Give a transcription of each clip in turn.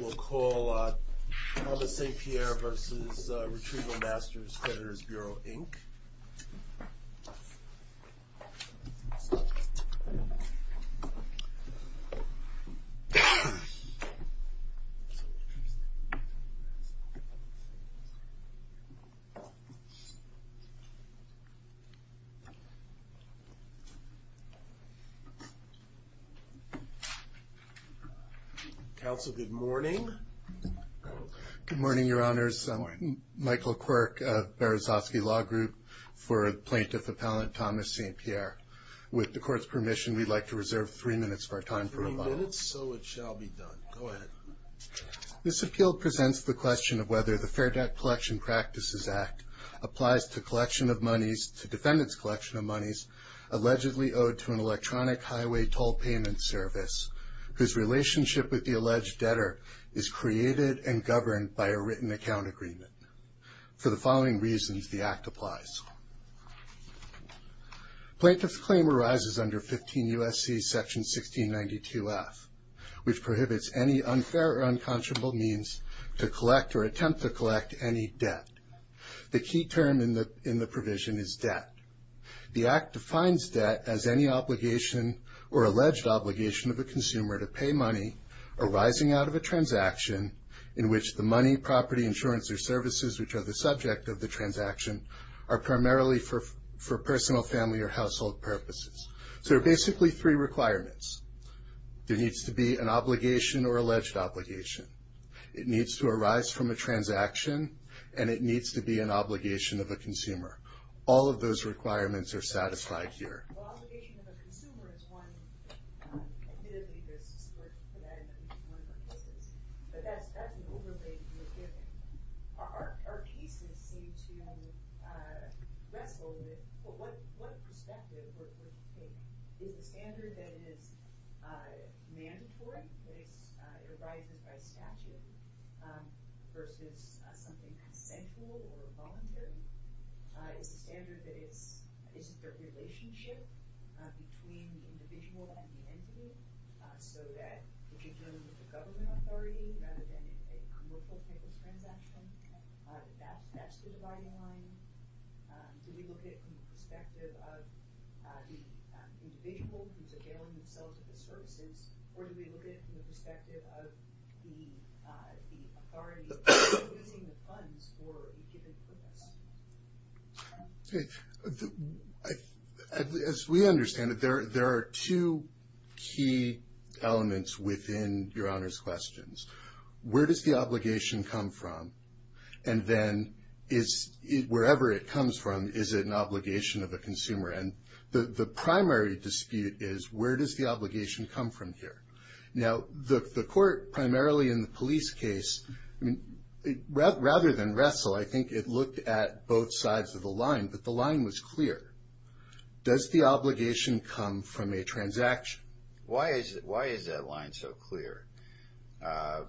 We'll call Thomas E.Pierre v. Retrieval-Masters Creditors Bureau, Inc. Counsel, good morning. Good morning, Your Honors. I'm Michael Quirk of Berezovsky Law Group for Plaintiff Appellant Thomas E.Pierre. With the Court's permission, we'd like to reserve three minutes of our time for rebuttal. Three minutes, so it shall be done. Go ahead. This appeal presents the question of whether the Fair Debt Collection Practices Act applies to collection of monies, to defendant's collection of monies allegedly owed to an electronic highway toll payment service whose relationship with the alleged debtor is created and governed by a written account agreement. For the following reasons, the Act applies. Plaintiff's claim arises under 15 U.S.C. section 1692F, which prohibits any unfair or unconscionable means to collect or attempt to collect any debt. The key term in the provision is debt. The Act defines debt as any obligation or alleged obligation of a consumer to pay money arising out of a transaction in which the money, property, insurance, or services which are the subject of the transaction are primarily for personal, family, or household purposes. So there are basically three requirements. There needs to be an obligation or alleged obligation. It needs to arise from a transaction, and it needs to be an obligation of a consumer. All of those requirements are satisfied here. So obligation of a consumer is one. Admittedly, there's support for that in consumer purposes. But that's an overlay to be given. Our cases seem to wrestle with what perspective we're taking. Is the standard that it is mandatory, that it's provided by statute, versus something central or voluntary? Is the standard that it's a relationship between the individual and the entity, so that if you're dealing with a government authority rather than a commercial type of transaction, that that's the dividing line? Do we look at it from the perspective of the individual who's availing themselves of the services, or do we look at it from the perspective of the authority using the funds for a given purpose? As we understand it, there are two key elements within Your Honor's questions. Where does the obligation come from? And then wherever it comes from, is it an obligation of a consumer? And the primary dispute is where does the obligation come from here? Now, the court, primarily in the police case, rather than wrestle, I think it looked at both sides of the line, but the line was clear. Does the obligation come from a transaction? Why is that line so clear?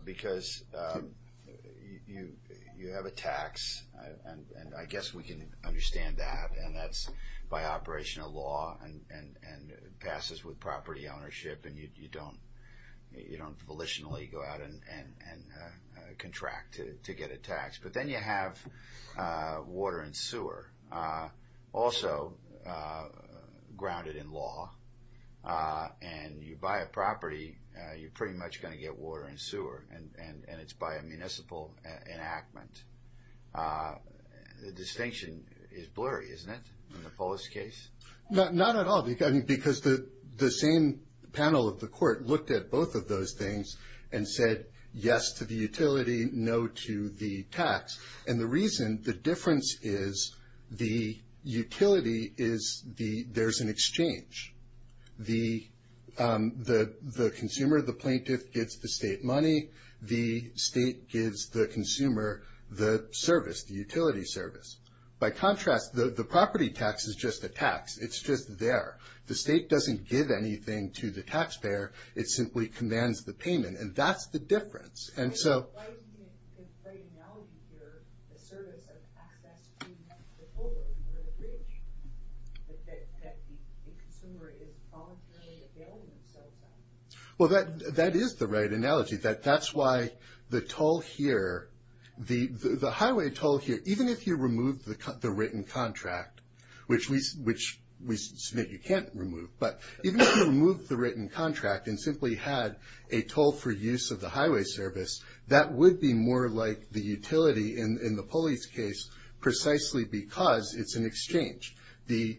Because you have a tax, and I guess we can understand that, and that's by operation of law and passes with property ownership, and you don't volitionally go out and contract to get a tax. But then you have water and sewer, also grounded in law, and you buy a property, you're pretty much going to get water and sewer, and it's by a municipal enactment. The distinction is blurry, isn't it, in the police case? Not at all, because the same panel of the court looked at both of those things and said yes to the utility, no to the tax. And the reason, the difference is the utility is there's an exchange. The consumer, the plaintiff, gets the state money. The state gives the consumer the service, the utility service. By contrast, the property tax is just a tax. It's just there. The state doesn't give anything to the taxpayer. It simply commands the payment, and that's the difference. And so why isn't it the right analogy here, the service of access to the holder, the bridge, that the consumer is voluntarily availing themselves of? Well, that is the right analogy. That's why the toll here, the highway toll here, even if you remove the written contract, which we submit you can't remove, but even if you remove the written contract and simply had a toll for use of the highway service, that would be more like the utility in the police case precisely because it's an exchange. The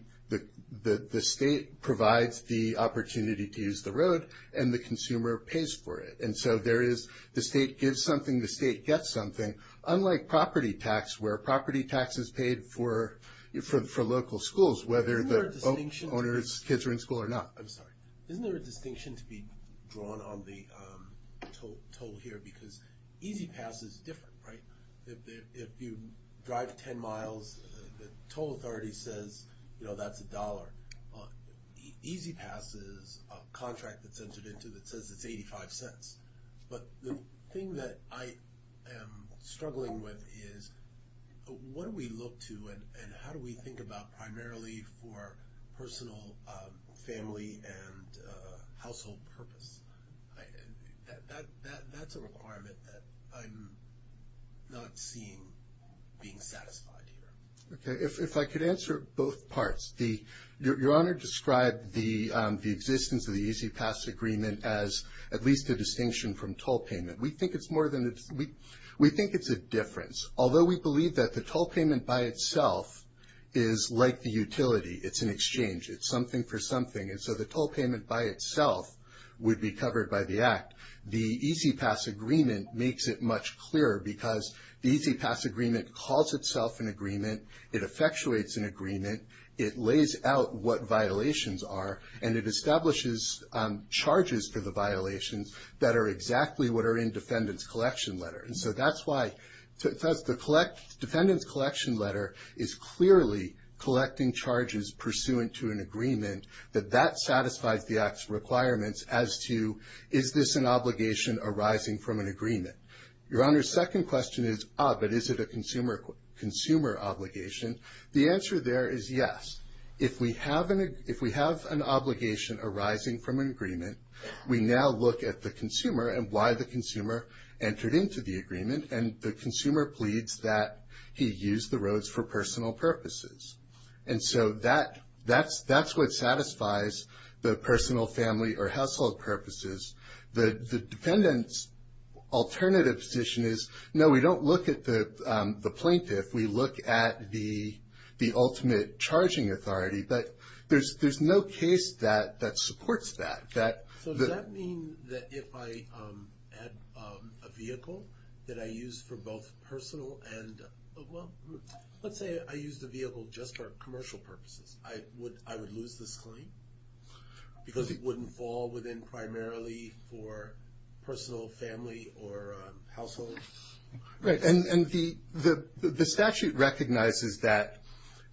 state provides the opportunity to use the road, and the consumer pays for it. And so there is the state gives something, the state gets something, unlike property tax where property tax is paid for local schools, whether the owner's kids are in school or not. I'm sorry. Isn't there a distinction to be drawn on the toll here because E-ZPass is different, right? If you drive 10 miles, the toll authority says, you know, that's a dollar. E-ZPass is a contract that's entered into that says it's 85 cents. But the thing that I am struggling with is what do we look to and how do we think about primarily for personal, family, and household purpose? That's a requirement that I'm not seeing being satisfied here. Okay. If I could answer both parts. Your Honor described the existence of the E-ZPass agreement as at least a distinction from toll payment. We think it's a difference. Although we believe that the toll payment by itself is like the utility. It's an exchange. It's something for something. And so the toll payment by itself would be covered by the Act. The E-ZPass agreement makes it much clearer because the E-ZPass agreement calls itself an agreement. It effectuates an agreement. It lays out what violations are, and it establishes charges for the violations that are exactly what are in defendant's collection letter. And so that's why the defendant's collection letter is clearly collecting charges pursuant to an agreement that that satisfies the Act's requirements as to is this an obligation arising from an agreement. Your Honor, the second question is, ah, but is it a consumer obligation? The answer there is yes. If we have an obligation arising from an agreement, we now look at the consumer and why the consumer entered into the agreement, and the consumer pleads that he used the roads for personal purposes. And so that's what satisfies the personal, family, or household purposes. The defendant's alternative position is, no, we don't look at the plaintiff. We look at the ultimate charging authority. But there's no case that supports that. So does that mean that if I had a vehicle that I used for both personal and, well, let's say I used a vehicle just for commercial purposes, I would lose this claim because it wouldn't fall within primarily for personal, family, or household? Right. And the statute recognizes that,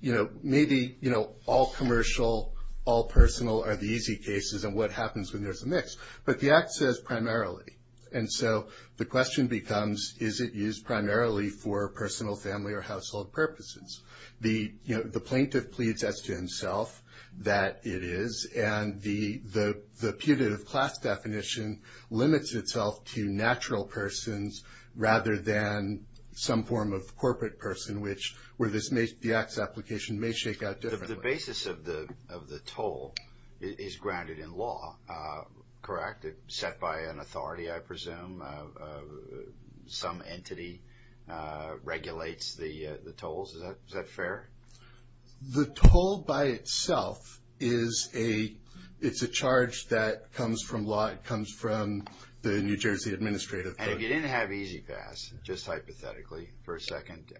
you know, maybe, you know, all commercial, all personal are the easy cases and what happens when there's a mix. But the Act says primarily. And so the question becomes, is it used primarily for personal, family, or household purposes? You know, the plaintiff pleads as to himself that it is, and the punitive class definition limits itself to natural persons rather than some form of corporate person, which where the Act's application may shake out differently. The basis of the toll is granted in law, correct? It's set by an authority, I presume. Some entity regulates the tolls. Is that fair? The toll by itself is a charge that comes from law. It comes from the New Jersey Administrative Court. And if you didn't have E-ZPass, just hypothetically, for a second,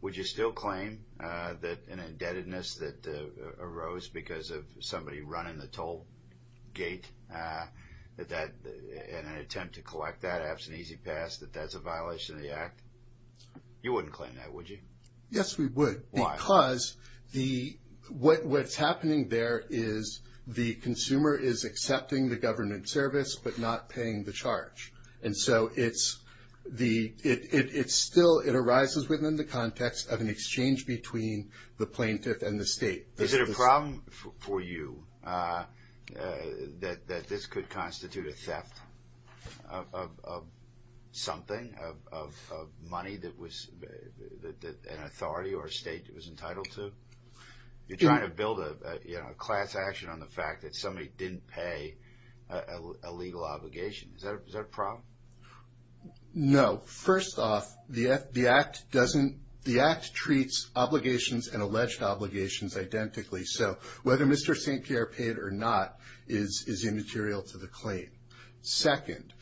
would you still claim that an indebtedness that arose because of somebody running the toll gate, and an attempt to collect that absent E-ZPass, that that's a violation of the Act? You wouldn't claim that, would you? Yes, we would. Why? Because what's happening there is the consumer is accepting the government service but not paying the charge. And so it still arises within the context of an exchange between the plaintiff and the state. Is it a problem for you that this could constitute a theft of something, of money that an authority or a state was entitled to? You're trying to build a class action on the fact that somebody didn't pay a legal obligation. Is that a problem? No. First off, the Act treats obligations and alleged obligations identically. So whether Mr. St. Pierre paid or not is immaterial to the claim. Second,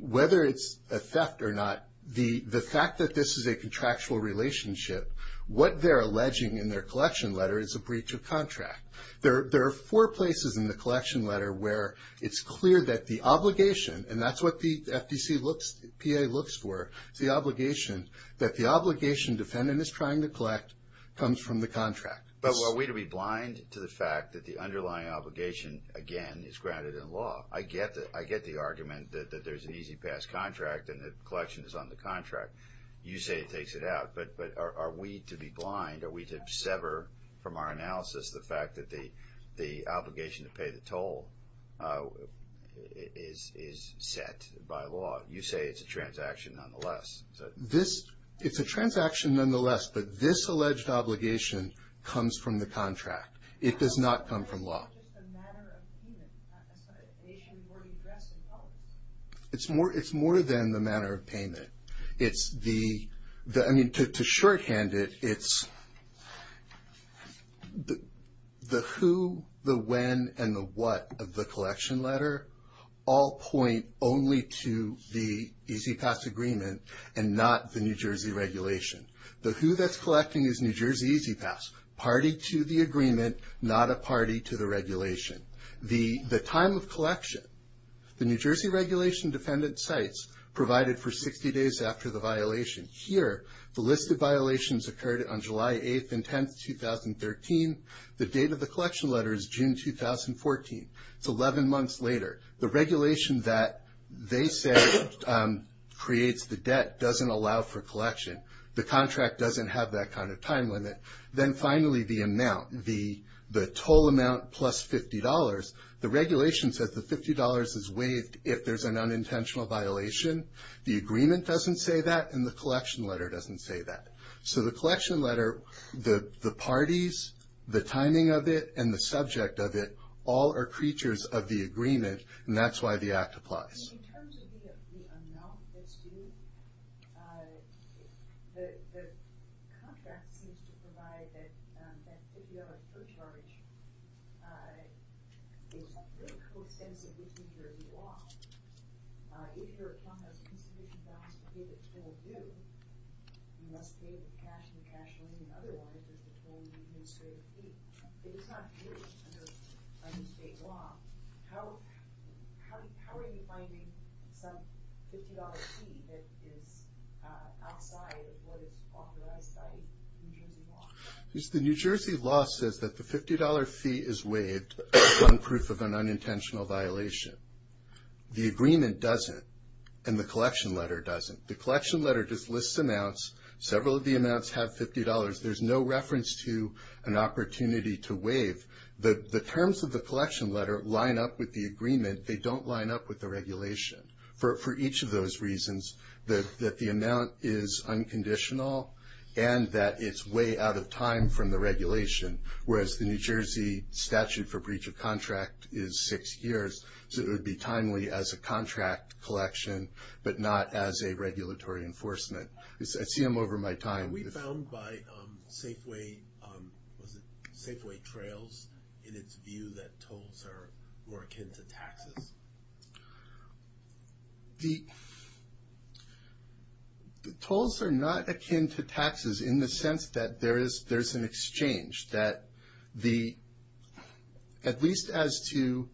whether it's a theft or not, the fact that this is a contractual relationship, what they're alleging in their collection letter is a breach of contract. There are four places in the collection letter where it's clear that the obligation, and that's what the FDC looks, the PA looks for, is the obligation that the obligation defendant is trying to collect comes from the contract. But are we to be blind to the fact that the underlying obligation, again, is granted in law? I get the argument that there's an E-ZPass contract and the collection is on the contract. You say it takes it out. But are we to be blind? Are we to sever from our analysis the fact that the obligation to pay the toll is set by law? You say it's a transaction nonetheless. It's a transaction nonetheless, but this alleged obligation comes from the contract. It does not come from law. It's just a matter of payment. I'm sorry, an issue before we address in public. It's more than the matter of payment. I mean, to shorthand it, it's the who, the when, and the what of the collection letter all point only to the E-ZPass agreement and not the New Jersey regulation. The who that's collecting is New Jersey E-ZPass, party to the agreement, not a party to the regulation. The time of collection, the New Jersey regulation defendant cites provided for 60 days after the violation. Here, the list of violations occurred on July 8th and 10th, 2013. The date of the collection letter is June 2014. It's 11 months later. The regulation that they say creates the debt doesn't allow for collection. The contract doesn't have that kind of time limit. Then, finally, the amount, the total amount plus $50. The regulation says the $50 is waived if there's an unintentional violation. The agreement doesn't say that, and the collection letter doesn't say that. So the collection letter, the parties, the timing of it, and the subject of it all are creatures of the agreement, and that's why the act applies. In terms of the amount that's due, the contract seems to provide that $50 per charge. It's not really coextensive with New Jersey law. If your fund has insufficient balance to pay the toll due, you must pay with cash and cash only. Otherwise, there's a toll and administrative fee. If it's not paid under state law, how are you finding some $50 fee that is outside of what is authorized by New Jersey law? The New Jersey law says that the $50 fee is waived on proof of an unintentional violation. The agreement doesn't, and the collection letter doesn't. The collection letter just lists amounts. Several of the amounts have $50. There's no reference to an opportunity to waive. The terms of the collection letter line up with the agreement. They don't line up with the regulation for each of those reasons, that the amount is unconditional and that it's way out of time from the regulation, whereas the New Jersey statute for breach of contract is six years, so it would be timely as a contract collection but not as a regulatory enforcement. I see them over my time. Are we bound by Safeway trails in its view that tolls are more akin to taxes? The tolls are not akin to taxes in the sense that there is an exchange, that at least as to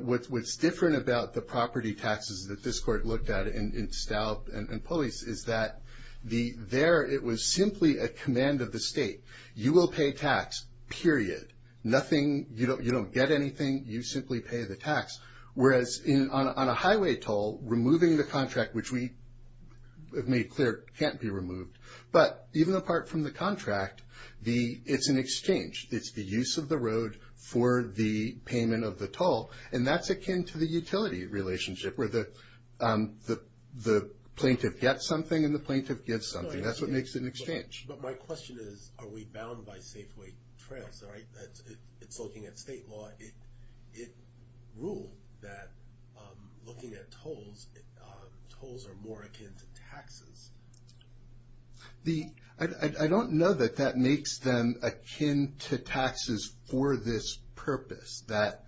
what's different about the property taxes that this court looked at in Stout and Pulleys is that there it was simply a command of the state. You will pay tax, period. You don't get anything. You simply pay the tax, whereas on a highway toll, removing the contract, which we have made clear can't be removed, but even apart from the contract, it's an exchange. It's the use of the road for the payment of the toll, and that's akin to the utility relationship where the plaintiff gets something and the plaintiff gives something. That's what makes it an exchange. But my question is, are we bound by Safeway trails? It's looking at state law. It ruled that looking at tolls, tolls are more akin to taxes. I don't know that that makes them akin to taxes for this purpose, that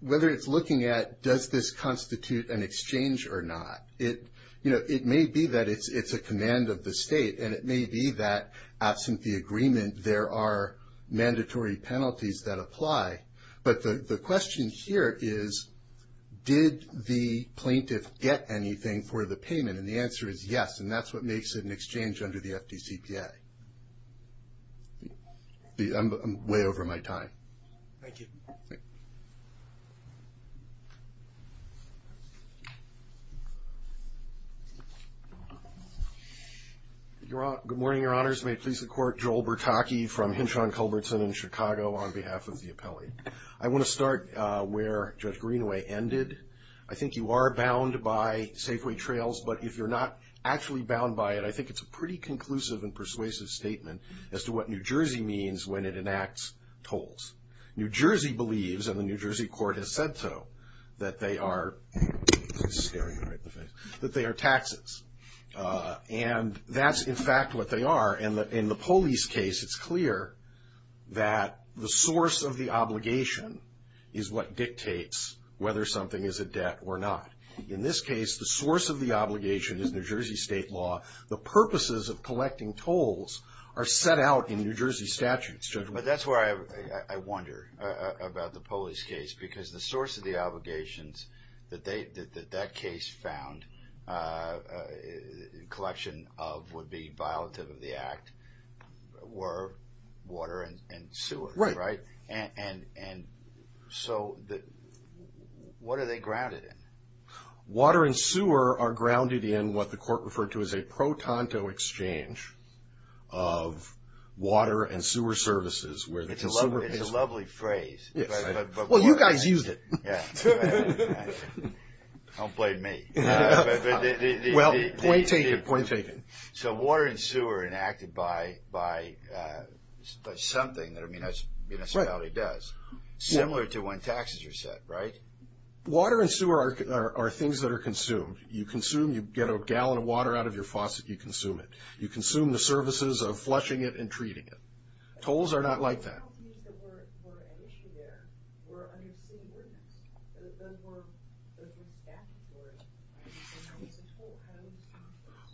whether it's looking at does this constitute an exchange or not. It may be that it's a command of the state, and it may be that absent the agreement there are mandatory penalties that apply. But the question here is, did the plaintiff get anything for the payment? And the answer is yes, and that's what makes it an exchange under the FDCPA. I'm way over my time. Thank you. Good morning, Your Honors. May it please the Court, Joel Bertocchi from Hinchon Culbertson in Chicago, on behalf of the appellee. I want to start where Judge Greenaway ended. I think you are bound by Safeway trails. But if you're not actually bound by it, I think it's a pretty conclusive and persuasive statement as to what New Jersey means when it enacts tolls. New Jersey believes, and the New Jersey court has said so, that they are taxes. And that's, in fact, what they are. In the police case, it's clear that the source of the obligation is what dictates whether something is a debt or not. In this case, the source of the obligation is New Jersey state law. The purposes of collecting tolls are set out in New Jersey statutes, gentlemen. But that's where I wonder about the police case, because the source of the obligations that that case found collection of would be violative of the act were water and sewage, right? And so what are they grounded in? Water and sewer are grounded in what the court referred to as a pro-tonto exchange of water and sewer services where the consumer pays. It's a lovely phrase. Well, you guys used it. Yeah. Don't blame me. Well, point taken, point taken. So water and sewer are enacted by something that a municipality does, similar to when taxes are set, right? Water and sewer are things that are consumed. You consume, you get a gallon of water out of your faucet, you consume it. You consume the services of flushing it and treating it. Tolls are not like that. The penalties that were at issue there were under city ordinance. Those were staffed for it. They're not just a toll.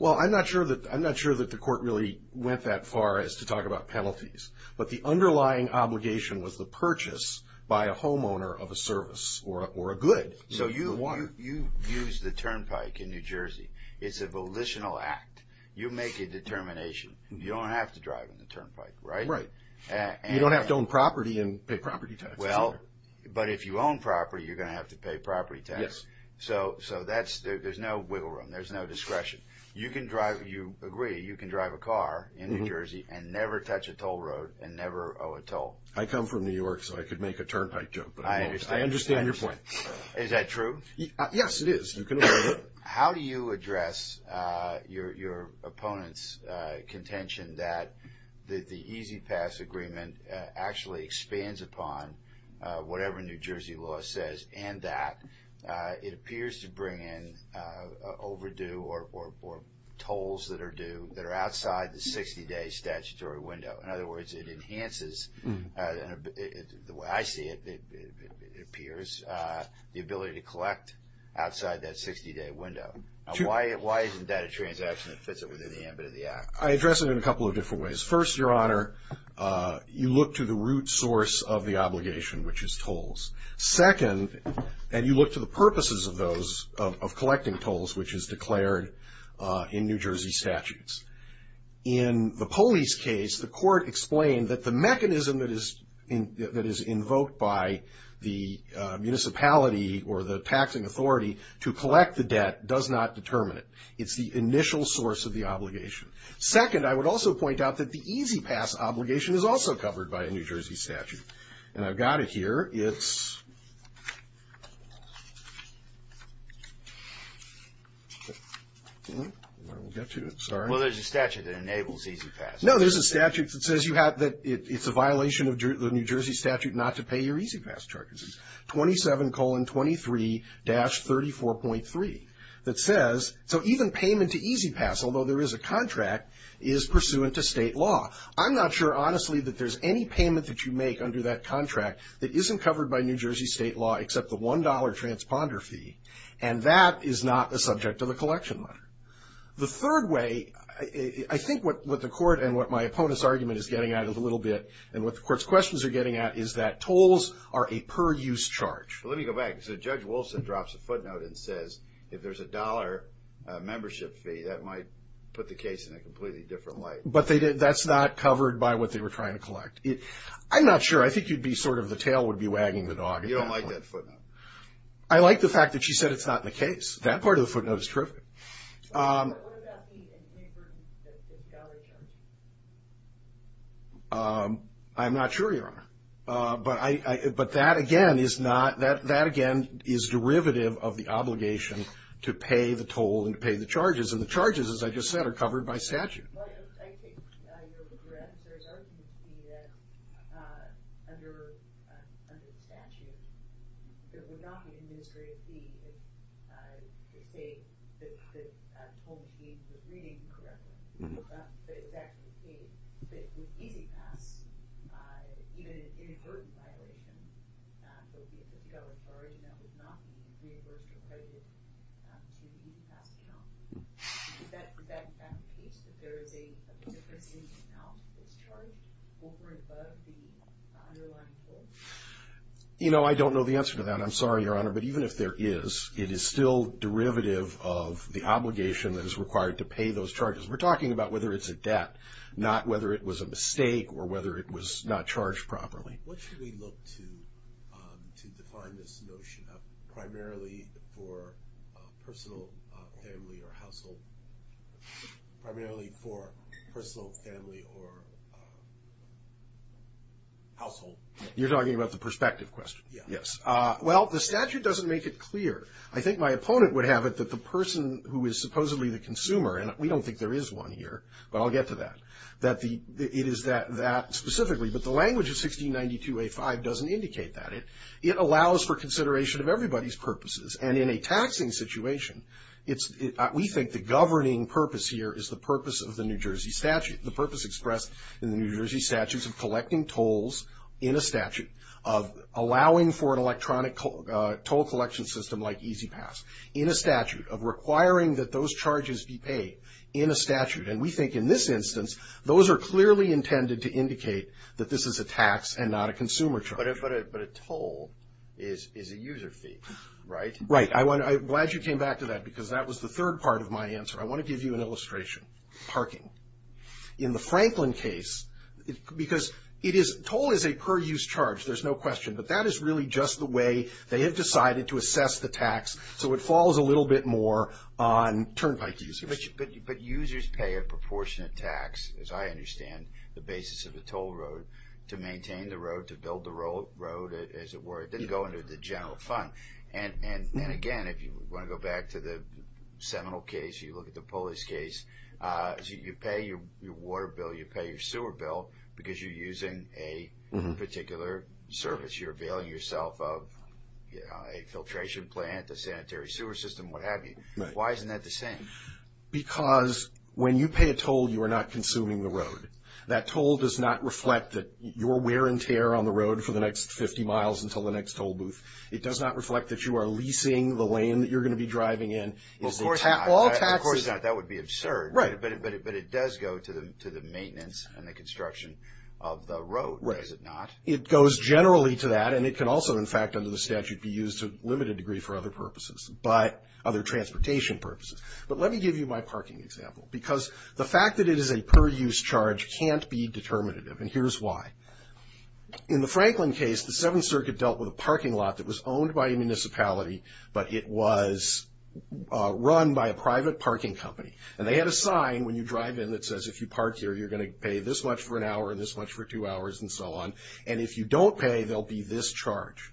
Well, I'm not sure that the court really went that far as to talk about penalties. But the underlying obligation was the purchase by a homeowner of a service or a good. So you use the turnpike in New Jersey. It's a volitional act. You make a determination. You don't have to drive on the turnpike, right? Right. You don't have to own property and pay property taxes. Well, but if you own property, you're going to have to pay property taxes. Yes. So there's no wiggle room. There's no discretion. You agree you can drive a car in New Jersey and never touch a toll road and never owe a toll. I come from New York, so I could make a turnpike jump. I understand your point. Is that true? Yes, it is. You can owe a toll road. How do you address your opponent's contention that the E-ZPass agreement actually expands upon whatever New Jersey law says and that it appears to bring in overdue or tolls that are due that are outside the 60-day statutory window? In other words, it enhances, the way I see it, it appears, the ability to collect outside that 60-day window. Why isn't that a transaction that fits within the ambit of the act? I address it in a couple of different ways. First, Your Honor, you look to the root source of the obligation, which is tolls. Second, and you look to the purposes of those, of collecting tolls, which is declared in New Jersey statutes. In the police case, the court explained that the mechanism that is invoked by the municipality or the taxing authority to collect the debt does not determine it. It's the initial source of the obligation. Second, I would also point out that the E-ZPass obligation is also covered by a New Jersey statute. And I've got it here. It's, I won't get to it, sorry. Well, there's a statute that enables E-ZPass. No, there's a statute that says you have to, it's a violation of the New Jersey statute not to pay your E-ZPass charges. It's 27-23-34.3 that says, so even payment to E-ZPass, although there is a contract, is pursuant to state law. Now, I'm not sure, honestly, that there's any payment that you make under that contract that isn't covered by New Jersey state law except the $1 transponder fee. And that is not a subject of the collection letter. The third way, I think what the court and what my opponent's argument is getting at a little bit, and what the court's questions are getting at is that tolls are a per-use charge. Let me go back. So Judge Wilson drops a footnote and says if there's a dollar membership fee, that might put the case in a completely different light. But that's not covered by what they were trying to collect. I'm not sure. I think you'd be sort of, the tail would be wagging the dog at that point. You don't like that footnote. I like the fact that she said it's not in the case. That part of the footnote is terrific. What about the $1 charge? I'm not sure, Your Honor. But that, again, is not, that, again, is derivative of the obligation to pay the toll and to pay the charges. And the charges, as I just said, are covered by statute. Well, I take your regrets. There's argument to me that under the statute, it would not be an administrative fee if they, if the toll machine was reading correctly. That's not exactly the case. But with E-ZPass, even an inadvertent violation, that would be a $1 charge, and that would not be an inadvertent violation to the E-ZPass charge. Would that indicate that there is a difference in the amount that's charged over and above the underlying toll? You know, I don't know the answer to that. I'm sorry, Your Honor. But even if there is, it is still derivative of the obligation that is required to pay those charges. We're talking about whether it's a debt, not whether it was a mistake or whether it was not charged properly. What should we look to to define this notion of primarily for personal, family, or household? Primarily for personal, family, or household. You're talking about the perspective question? Yes. Well, the statute doesn't make it clear. I think my opponent would have it that the person who is supposedly the consumer, and we don't think there is one here, but I'll get to that, that it is that specifically. But the language of 1692A5 doesn't indicate that. It allows for consideration of everybody's purposes. And in a taxing situation, we think the governing purpose here is the purpose of the New Jersey statute, the purpose expressed in the New Jersey statutes of collecting tolls in a statute, of allowing for an electronic toll collection system like E-ZPass in a statute, of requiring that those charges be paid in a statute. And we think in this instance, those are clearly intended to indicate that this is a tax and not a consumer charge. But a toll is a user fee, right? Right. I'm glad you came back to that because that was the third part of my answer. I want to give you an illustration. Parking. In the Franklin case, because toll is a per-use charge, there's no question, but that is really just the way they have decided to assess the tax, so it falls a little bit more on turnpike users. But users pay a proportionate tax, as I understand the basis of the toll road, to maintain the road, to build the road, as it were. It doesn't go into the general fund. And, again, if you want to go back to the Seminole case, you look at the Pulleys case, you pay your water bill, you pay your sewer bill because you're using a particular service. You're availing yourself of a filtration plant, a sanitary sewer system, what have you. Why isn't that the same? Because when you pay a toll, you are not consuming the road. That toll does not reflect that you're wear and tear on the road for the next 50 miles until the next toll booth. It does not reflect that you are leasing the lane that you're going to be driving in. Of course not. Of course not. That would be absurd. Right. But it does go to the maintenance and the construction of the road, does it not? It goes generally to that, and it can also, in fact, under the statute, be used to a limited degree for other purposes, other transportation purposes. But let me give you my parking example. Because the fact that it is a per-use charge can't be determinative, and here's why. In the Franklin case, the Seventh Circuit dealt with a parking lot that was owned by a municipality, but it was run by a private parking company. And they had a sign when you drive in that says if you park here, you're going to pay this much for an hour and this much for two hours and so on. And if you don't pay, there will be this charge.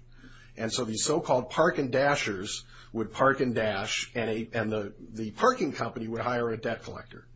And so these so-called park and dashers would park and dash, and the parking company would hire a debt collector.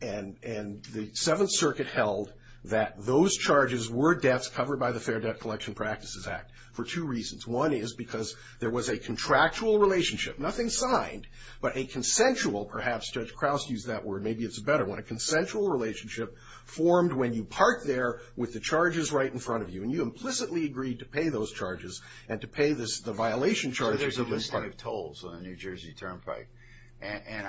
And the Seventh Circuit held that those charges were debts covered by the Fair Debt Collection Practices Act for two reasons. One is because there was a contractual relationship, nothing signed, but a consensual, perhaps Judge Kraus used that word, maybe it's a better one, a consensual relationship formed when you park there with the charges right in front of you, and you implicitly agreed to pay those charges and to pay the violation charges. So there's a list of tolls on a New Jersey turnpike, and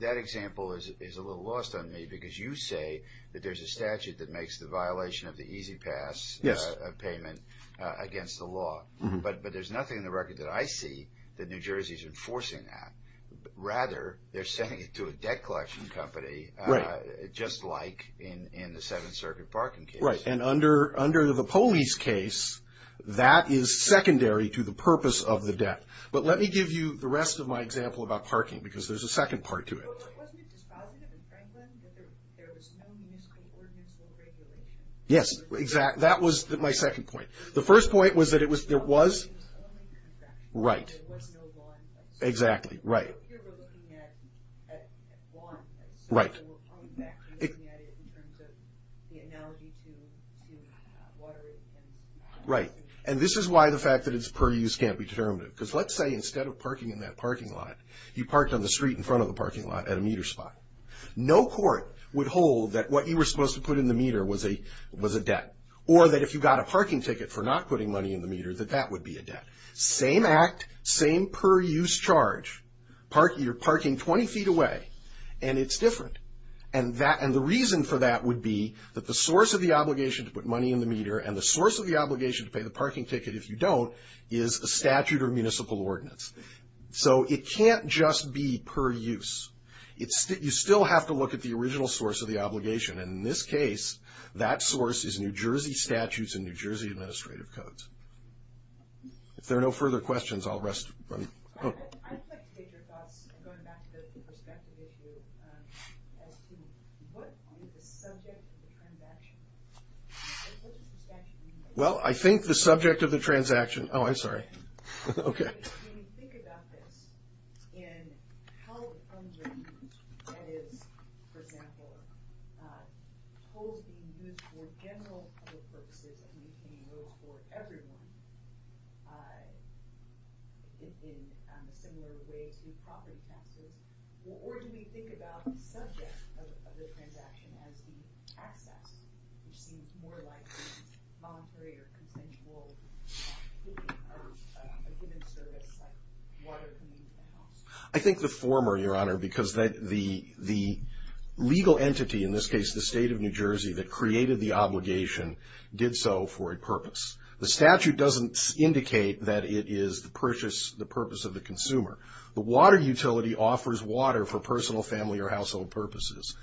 that example is a little lost on me because you say that there's a statute that makes the violation of the E-ZPass payment against the law. But there's nothing in the record that I see that New Jersey is enforcing that. Rather, they're sending it to a debt collection company just like in the Seventh Circuit parking case. Right, and under the police case, that is secondary to the purpose of the debt. But let me give you the rest of my example about parking because there's a second part to it. Wasn't it dispositive in Franklin that there was no municipal ordinance or regulation? Yes, exactly. That was my second point. The first point was that there was? There was only contractual. Right. There was no law in place. Exactly, right. Right. Right, and this is why the fact that it's per use can't be determined because let's say instead of parking in that parking lot, you parked on the street in front of the parking lot at a meter spot. No court would hold that what you were supposed to put in the meter was a debt or that if you got a parking ticket for not putting money in the meter that that would be a debt. Same act, same per use charge. You're parking 20 feet away, and it's different. And the reason for that would be that the source of the obligation to put money in the meter and the source of the obligation to pay the parking ticket if you don't is a statute or municipal ordinance. So it can't just be per use. You still have to look at the original source of the obligation, and in this case that source is New Jersey statutes and New Jersey administrative codes. If there are no further questions, I'll rest. Well, I think the subject of the transaction. Oh, I'm sorry. Okay. I think the former, Your Honor, because the legal entity, in this case the state of New Jersey, that created the obligation did so for a purpose. The statute doesn't indicate that it is the purpose of the consumer. The water utility offers water for personal, family, or household purposes.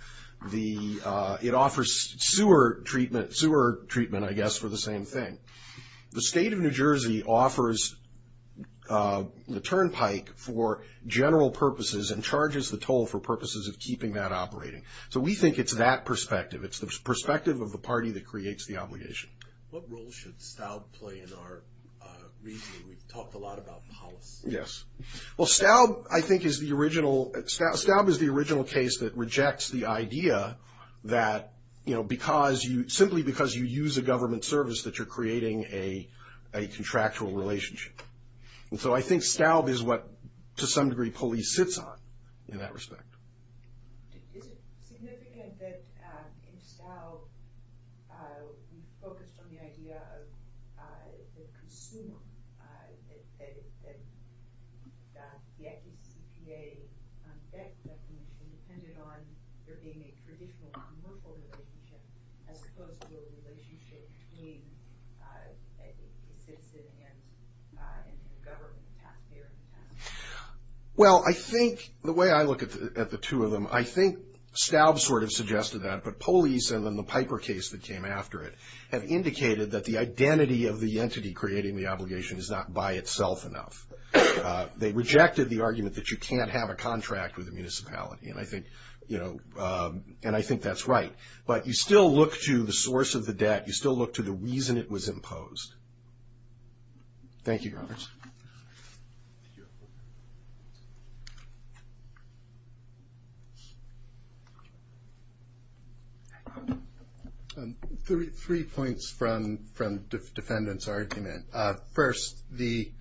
It offers sewer treatment, I guess, for the same thing. The state of New Jersey offers the turnpike for general purposes and charges the toll for purposes of keeping that operating. So we think it's that perspective. It's the perspective of the party that creates the obligation. What role should STAUB play in our reasoning? We've talked a lot about policy. Yes. Well, STAUB, I think, is the original case that rejects the idea that, you know, simply because you use a government service that you're creating a contractual relationship. And so I think STAUB is what, to some degree, police sits on in that respect. Is it significant that in STAUB we focused on the idea of the consumer, that the FECPA debt definition depended on there being a traditional non-workable relationship as opposed to a relationship between a citizen and a government taxpayer in the past? Well, I think the way I look at the two of them, I think STAUB sort of suggested that, but police and then the Piper case that came after it have indicated that the identity of the entity creating the obligation is not by itself enough. They rejected the argument that you can't have a contract with a municipality, and I think that's right. But you still look to the source of the debt. You still look to the reason it was imposed. Thank you, Robert. Three points from the defendant's argument. First, the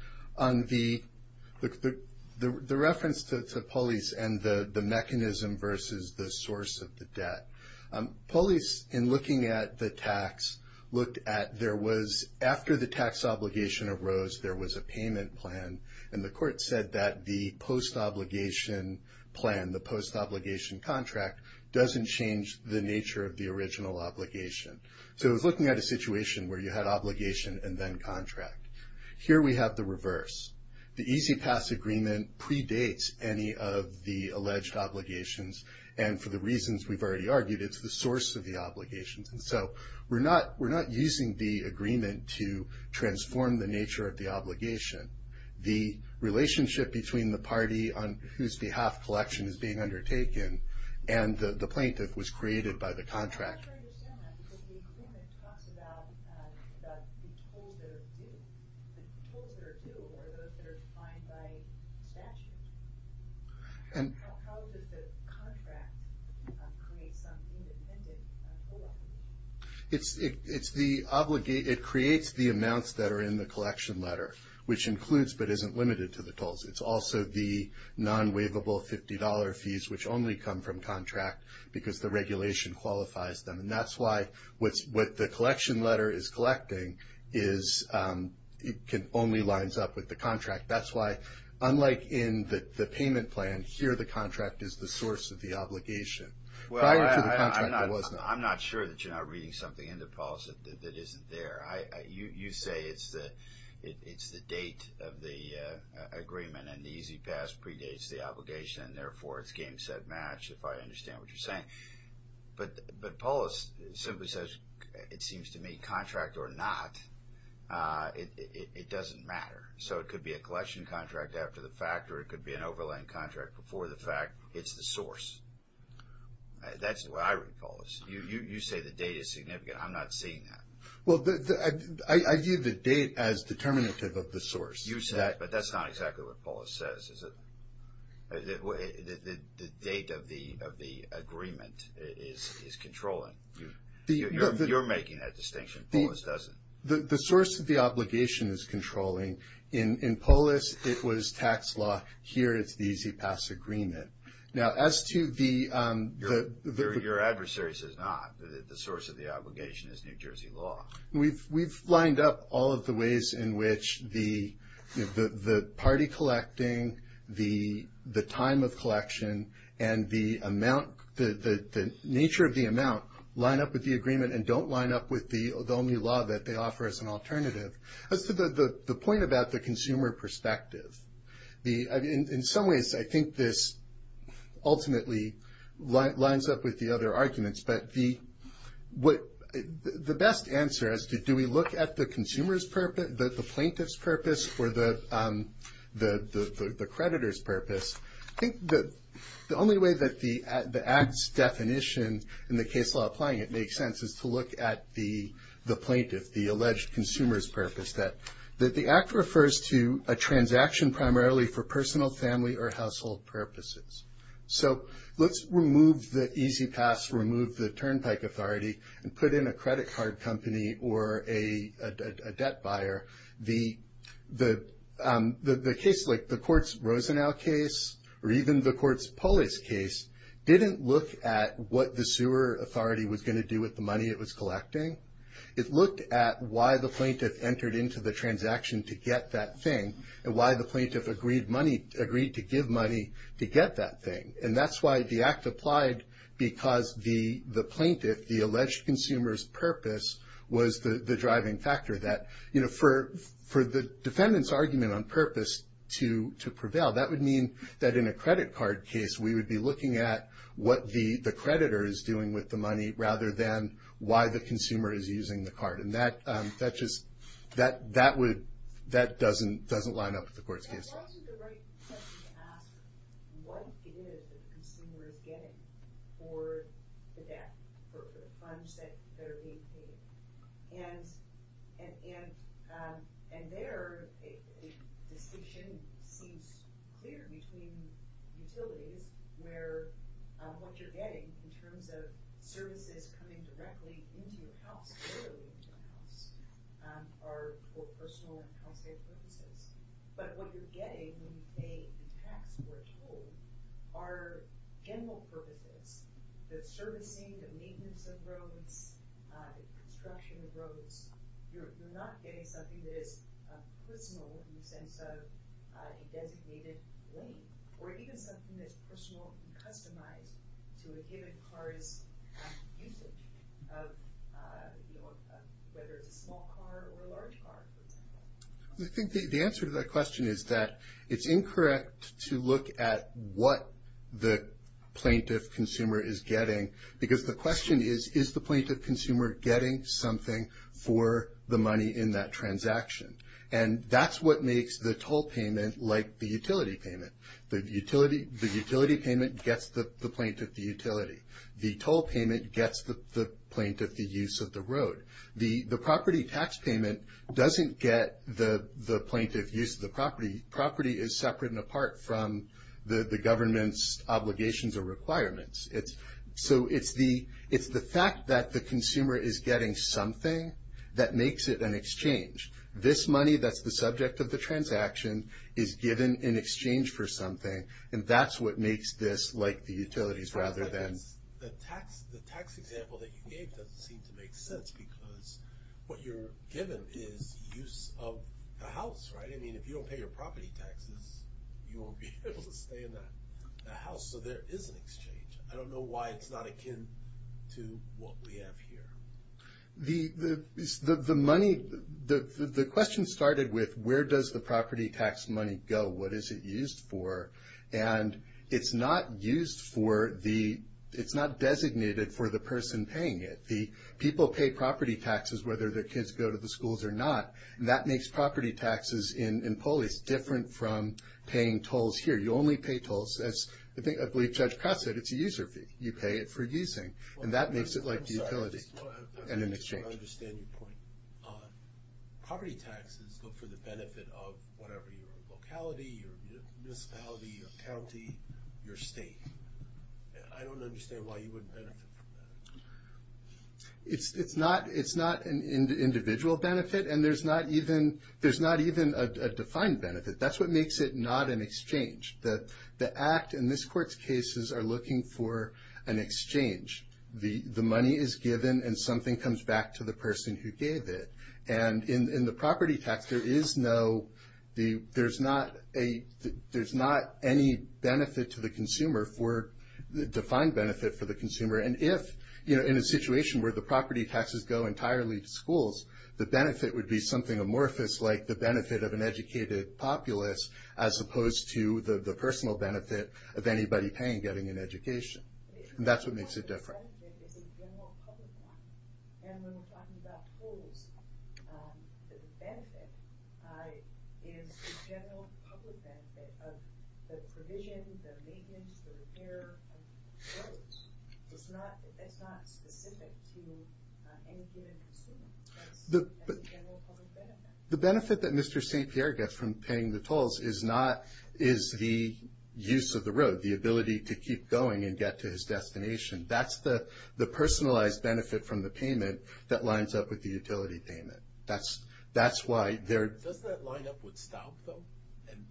reference to police and the mechanism versus the source of the debt. Police, in looking at the tax, looked at there was, after the tax obligation arose, there was a payment plan, and the court said that the post-obligation plan, the post-obligation contract, doesn't change the nature of the original obligation. So it was looking at a situation where you had obligation and then contract. Here we have the reverse. The E-ZPass agreement predates any of the alleged obligations, and for the reasons we've already argued, it's the source of the obligations. And so we're not using the agreement to transform the nature of the obligation. The relationship between the party on whose behalf collection is being undertaken and the plaintiff was created by the contract. I'm not sure I understand that, because the agreement talks about the tolls that are due, or those that are defined by statute. How does the contract create some independent toll? It creates the amounts that are in the collection letter, which includes but isn't limited to the tolls. It's also the non-waivable $50 fees, which only come from contract, because the regulation qualifies them. And that's why what the collection letter is collecting only lines up with the contract. That's why, unlike in the payment plan, here the contract is the source of the obligation. Prior to the contract, it was not. I'm not sure that you're not reading something in the policy that isn't there. You say it's the date of the agreement, and the E-ZPass predates the obligation, and therefore it's game, set, match, if I understand what you're saying. But Paulus simply says it seems to me contract or not, it doesn't matter. So it could be a collection contract after the fact, or it could be an overlaying contract before the fact. It's the source. That's the way I read Paulus. You say the date is significant. I'm not seeing that. Well, I view the date as determinative of the source. But that's not exactly what Paulus says, is it? The date of the agreement is controlling. You're making that distinction. Paulus doesn't. The source of the obligation is controlling. In Paulus, it was tax law. Here it's the E-ZPass agreement. Now, as to the – Your adversary says not. The source of the obligation is New Jersey law. We've lined up all of the ways in which the party collecting, the time of collection, and the nature of the amount line up with the agreement and don't line up with the only law that they offer as an alternative. As to the point about the consumer perspective, in some ways, I think this ultimately lines up with the other arguments. But the best answer as to do we look at the consumer's purpose, the plaintiff's purpose, or the creditor's purpose, I think the only way that the Act's definition in the case law applying it makes sense is to look at the plaintiff, the alleged consumer's purpose. The Act refers to a transaction primarily for personal, family, or household purposes. So let's remove the E-ZPass, remove the Turnpike Authority, and put in a credit card company or a debt buyer. The case like the court's Rosenau case or even the court's Paulus case didn't look at what the sewer authority was going to do with the money it was collecting. It looked at why the plaintiff entered into the transaction to get that thing and why the plaintiff agreed to give money to get that thing. And that's why the Act applied because the plaintiff, the alleged consumer's purpose, was the driving factor. For the defendant's argument on purpose to prevail, that would mean that in a credit card case, we would be looking at what the creditor is doing with the money rather than why the consumer is using the card. And that doesn't line up with the court's case law. It wasn't the right question to ask what it is that the consumer is getting for the debt, for the funds that are being paid. And there, a distinction seems clear between utilities where what you're getting in terms of services coming directly into your house, literally into your house, are for personal and health care purposes. But what you're getting when you pay the tax for a toll are general purposes, the servicing, the maintenance of roads, the construction of roads. You're not getting something that is personal in the sense of a designated lane, or even something that's personal and customized to a given car's usage, whether it's a small car or a large car, for example. I think the answer to that question is that it's incorrect to look at what the plaintiff consumer is getting, because the question is, is the plaintiff consumer getting something for the money in that transaction? And that's what makes the toll payment like the utility payment. The utility payment gets the plaintiff the utility. The toll payment gets the plaintiff the use of the road. The property tax payment doesn't get the plaintiff use of the property. Property is separate and apart from the government's obligations or requirements. So it's the fact that the consumer is getting something that makes it an exchange. This money that's the subject of the transaction is given in exchange for something, and that's what makes this like the utilities rather than the tax. The tax example that you gave doesn't seem to make sense, because what you're given is use of the house, right? I mean, if you don't pay your property taxes, you won't be able to stay in the house, so there is an exchange. I don't know why it's not akin to what we have here. The money, the question started with where does the property tax money go? What is it used for? And it's not used for the ‑‑ it's not designated for the person paying it. The people pay property taxes whether their kids go to the schools or not, and that makes property taxes in police different from paying tolls here. You only pay tolls. As I believe Judge Cross said, it's a user fee. You pay it for using, and that makes it like the utility and an exchange. I don't understand your point. Property taxes look for the benefit of whatever your locality, your municipality, your county, your state. I don't understand why you wouldn't benefit from that. It's not an individual benefit, and there's not even a defined benefit. That's what makes it not an exchange. The act in this court's cases are looking for an exchange. The money is given, and something comes back to the person who gave it. And in the property tax, there is no ‑‑ there's not a ‑‑ there's not any benefit to the consumer for ‑‑ defined benefit for the consumer. And if, you know, in a situation where the property taxes go entirely to schools, the benefit would be something amorphous like the benefit of an educated populace as opposed to the personal benefit of anybody paying, getting an education. And that's what makes it different. The benefit is a general public one. And when we're talking about tolls, the benefit is a general public benefit of the provision, the maintenance, the repair of the roads. It's not specific to any given consumer. That's a general public benefit. The benefit that Mr. St. Pierre gets from paying the tolls is not ‑‑ is the use of the road, the ability to keep going and get to his destination. That's the personalized benefit from the payment that lines up with the utility payment. That's why there ‑‑ Does that line up with Stout, though, and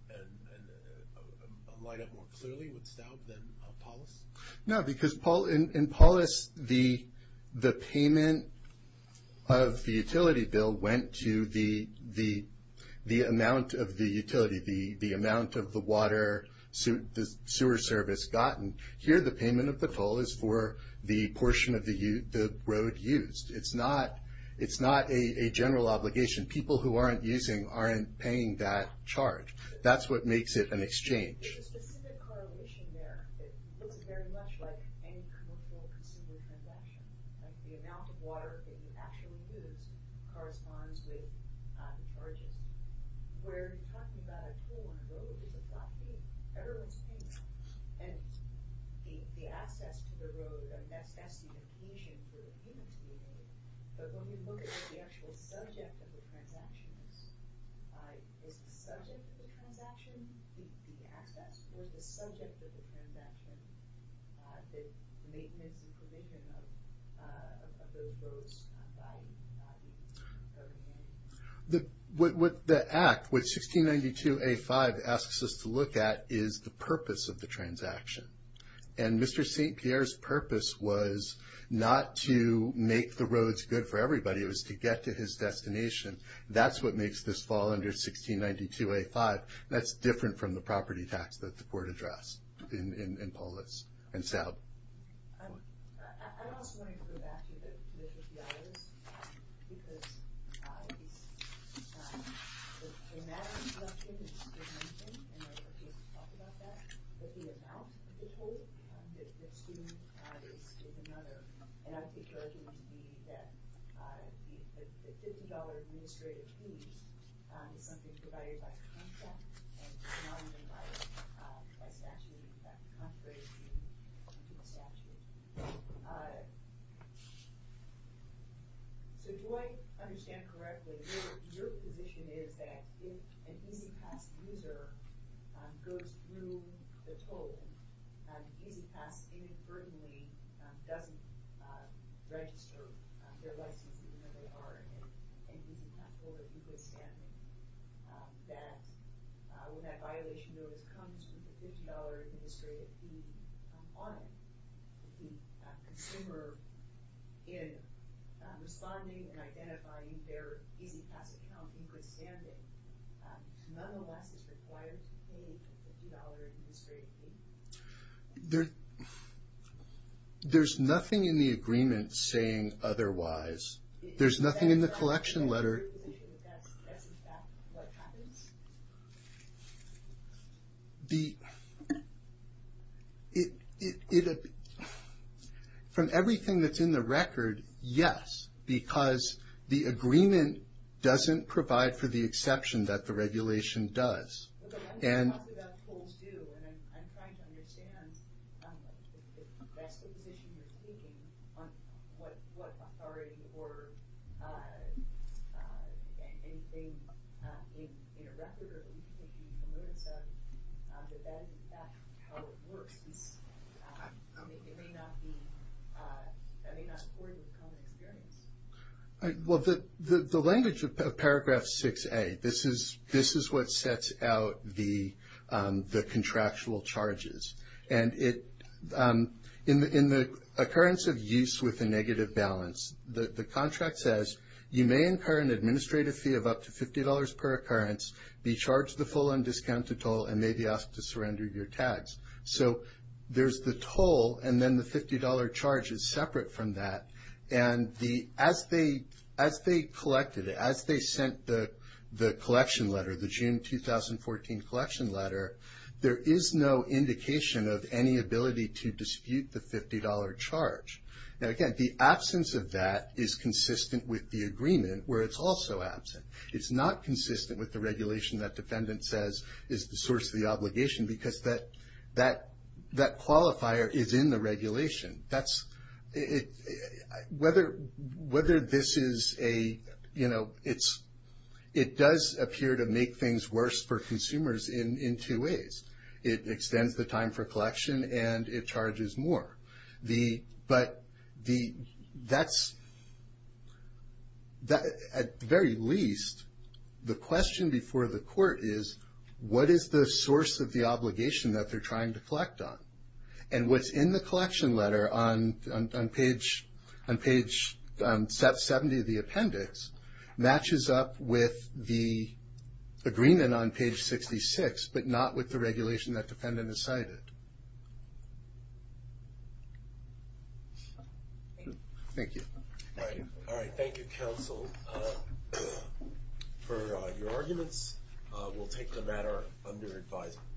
line up more clearly with Stout than Paulus? No, because in Paulus, the payment of the utility bill went to the amount of the utility, the amount of the water, the sewer service gotten. Here the payment of the toll is for the portion of the road used. It's not a general obligation. People who aren't using aren't paying that charge. That's what makes it an exchange. There's a specific correlation there that looks very much like any consumer transaction. The amount of water that you actually use corresponds with the charges. Where you're talking about a toll on the road is a flat rate. Everyone's paying that. And the access to the road, that's the occasion for the payment to be made. But when you look at what the actual subject of the transaction is, is the subject of the transaction the access, or is the subject of the transaction the maintenance and provision of the road's value? What the Act, what 1692A5 asks us to look at is the purpose of the transaction. And Mr. St. Pierre's purpose was not to make the roads good for everybody. It was to get to his destination. That's what makes this fall under 1692A5. That's different from the property tax that the court addressed in Polis and Salve. I'm also going to go back to the $50. Because the amount of collection is $50. And I can't talk about that. But the amount of the toll that the student is another. And I think you're arguing that the $50 administrative fees is something provided by contract. And not only by statute. In fact, the contract is the statute. So do I understand correctly, your position is that if an E-ZPass user goes through the toll, E-ZPass inadvertently doesn't register their license even though they are an E-ZPass holder. That when that violation comes with the $50 administrative fee on it, the consumer in responding and identifying their E-ZPass account in good standing, nonetheless is required to pay the $50 administrative fee? There's nothing in the agreement saying otherwise. There's nothing in the collection letter. From everything that's in the record, yes. Because the agreement doesn't provide for the exception that the regulation does. I'm talking about tolls too. And I'm trying to understand if that's the position you're taking, on what authority or anything in a record or anything that you notice of, that that is in fact how it works. It may not be, that may not support the common experience. Well, the language of paragraph 6A, this is what sets out the contractual charges. And in the occurrence of use with a negative balance, the contract says you may incur an administrative fee of up to $50 per occurrence, be charged the full undiscounted toll and may be asked to surrender your tags. So there's the toll and then the $50 charge is separate from that. And as they collected it, as they sent the collection letter, the June 2014 collection letter, there is no indication of any ability to dispute the $50 charge. Now, again, the absence of that is consistent with the agreement, where it's also absent. It's not consistent with the regulation that defendant says is the source of the obligation, because that qualifier is in the regulation. That's, whether this is a, you know, it does appear to make things worse for consumers in two ways. It extends the time for collection and it charges more. But that's, at the very least, the question before the court is, what is the source of the obligation that they're trying to collect on? And what's in the collection letter on page 70 of the appendix matches up with the agreement on page 66, but not with the regulation that defendant has cited. Thank you. Thank you. All right, thank you, counsel. For your arguments, we'll take the matter under advisement.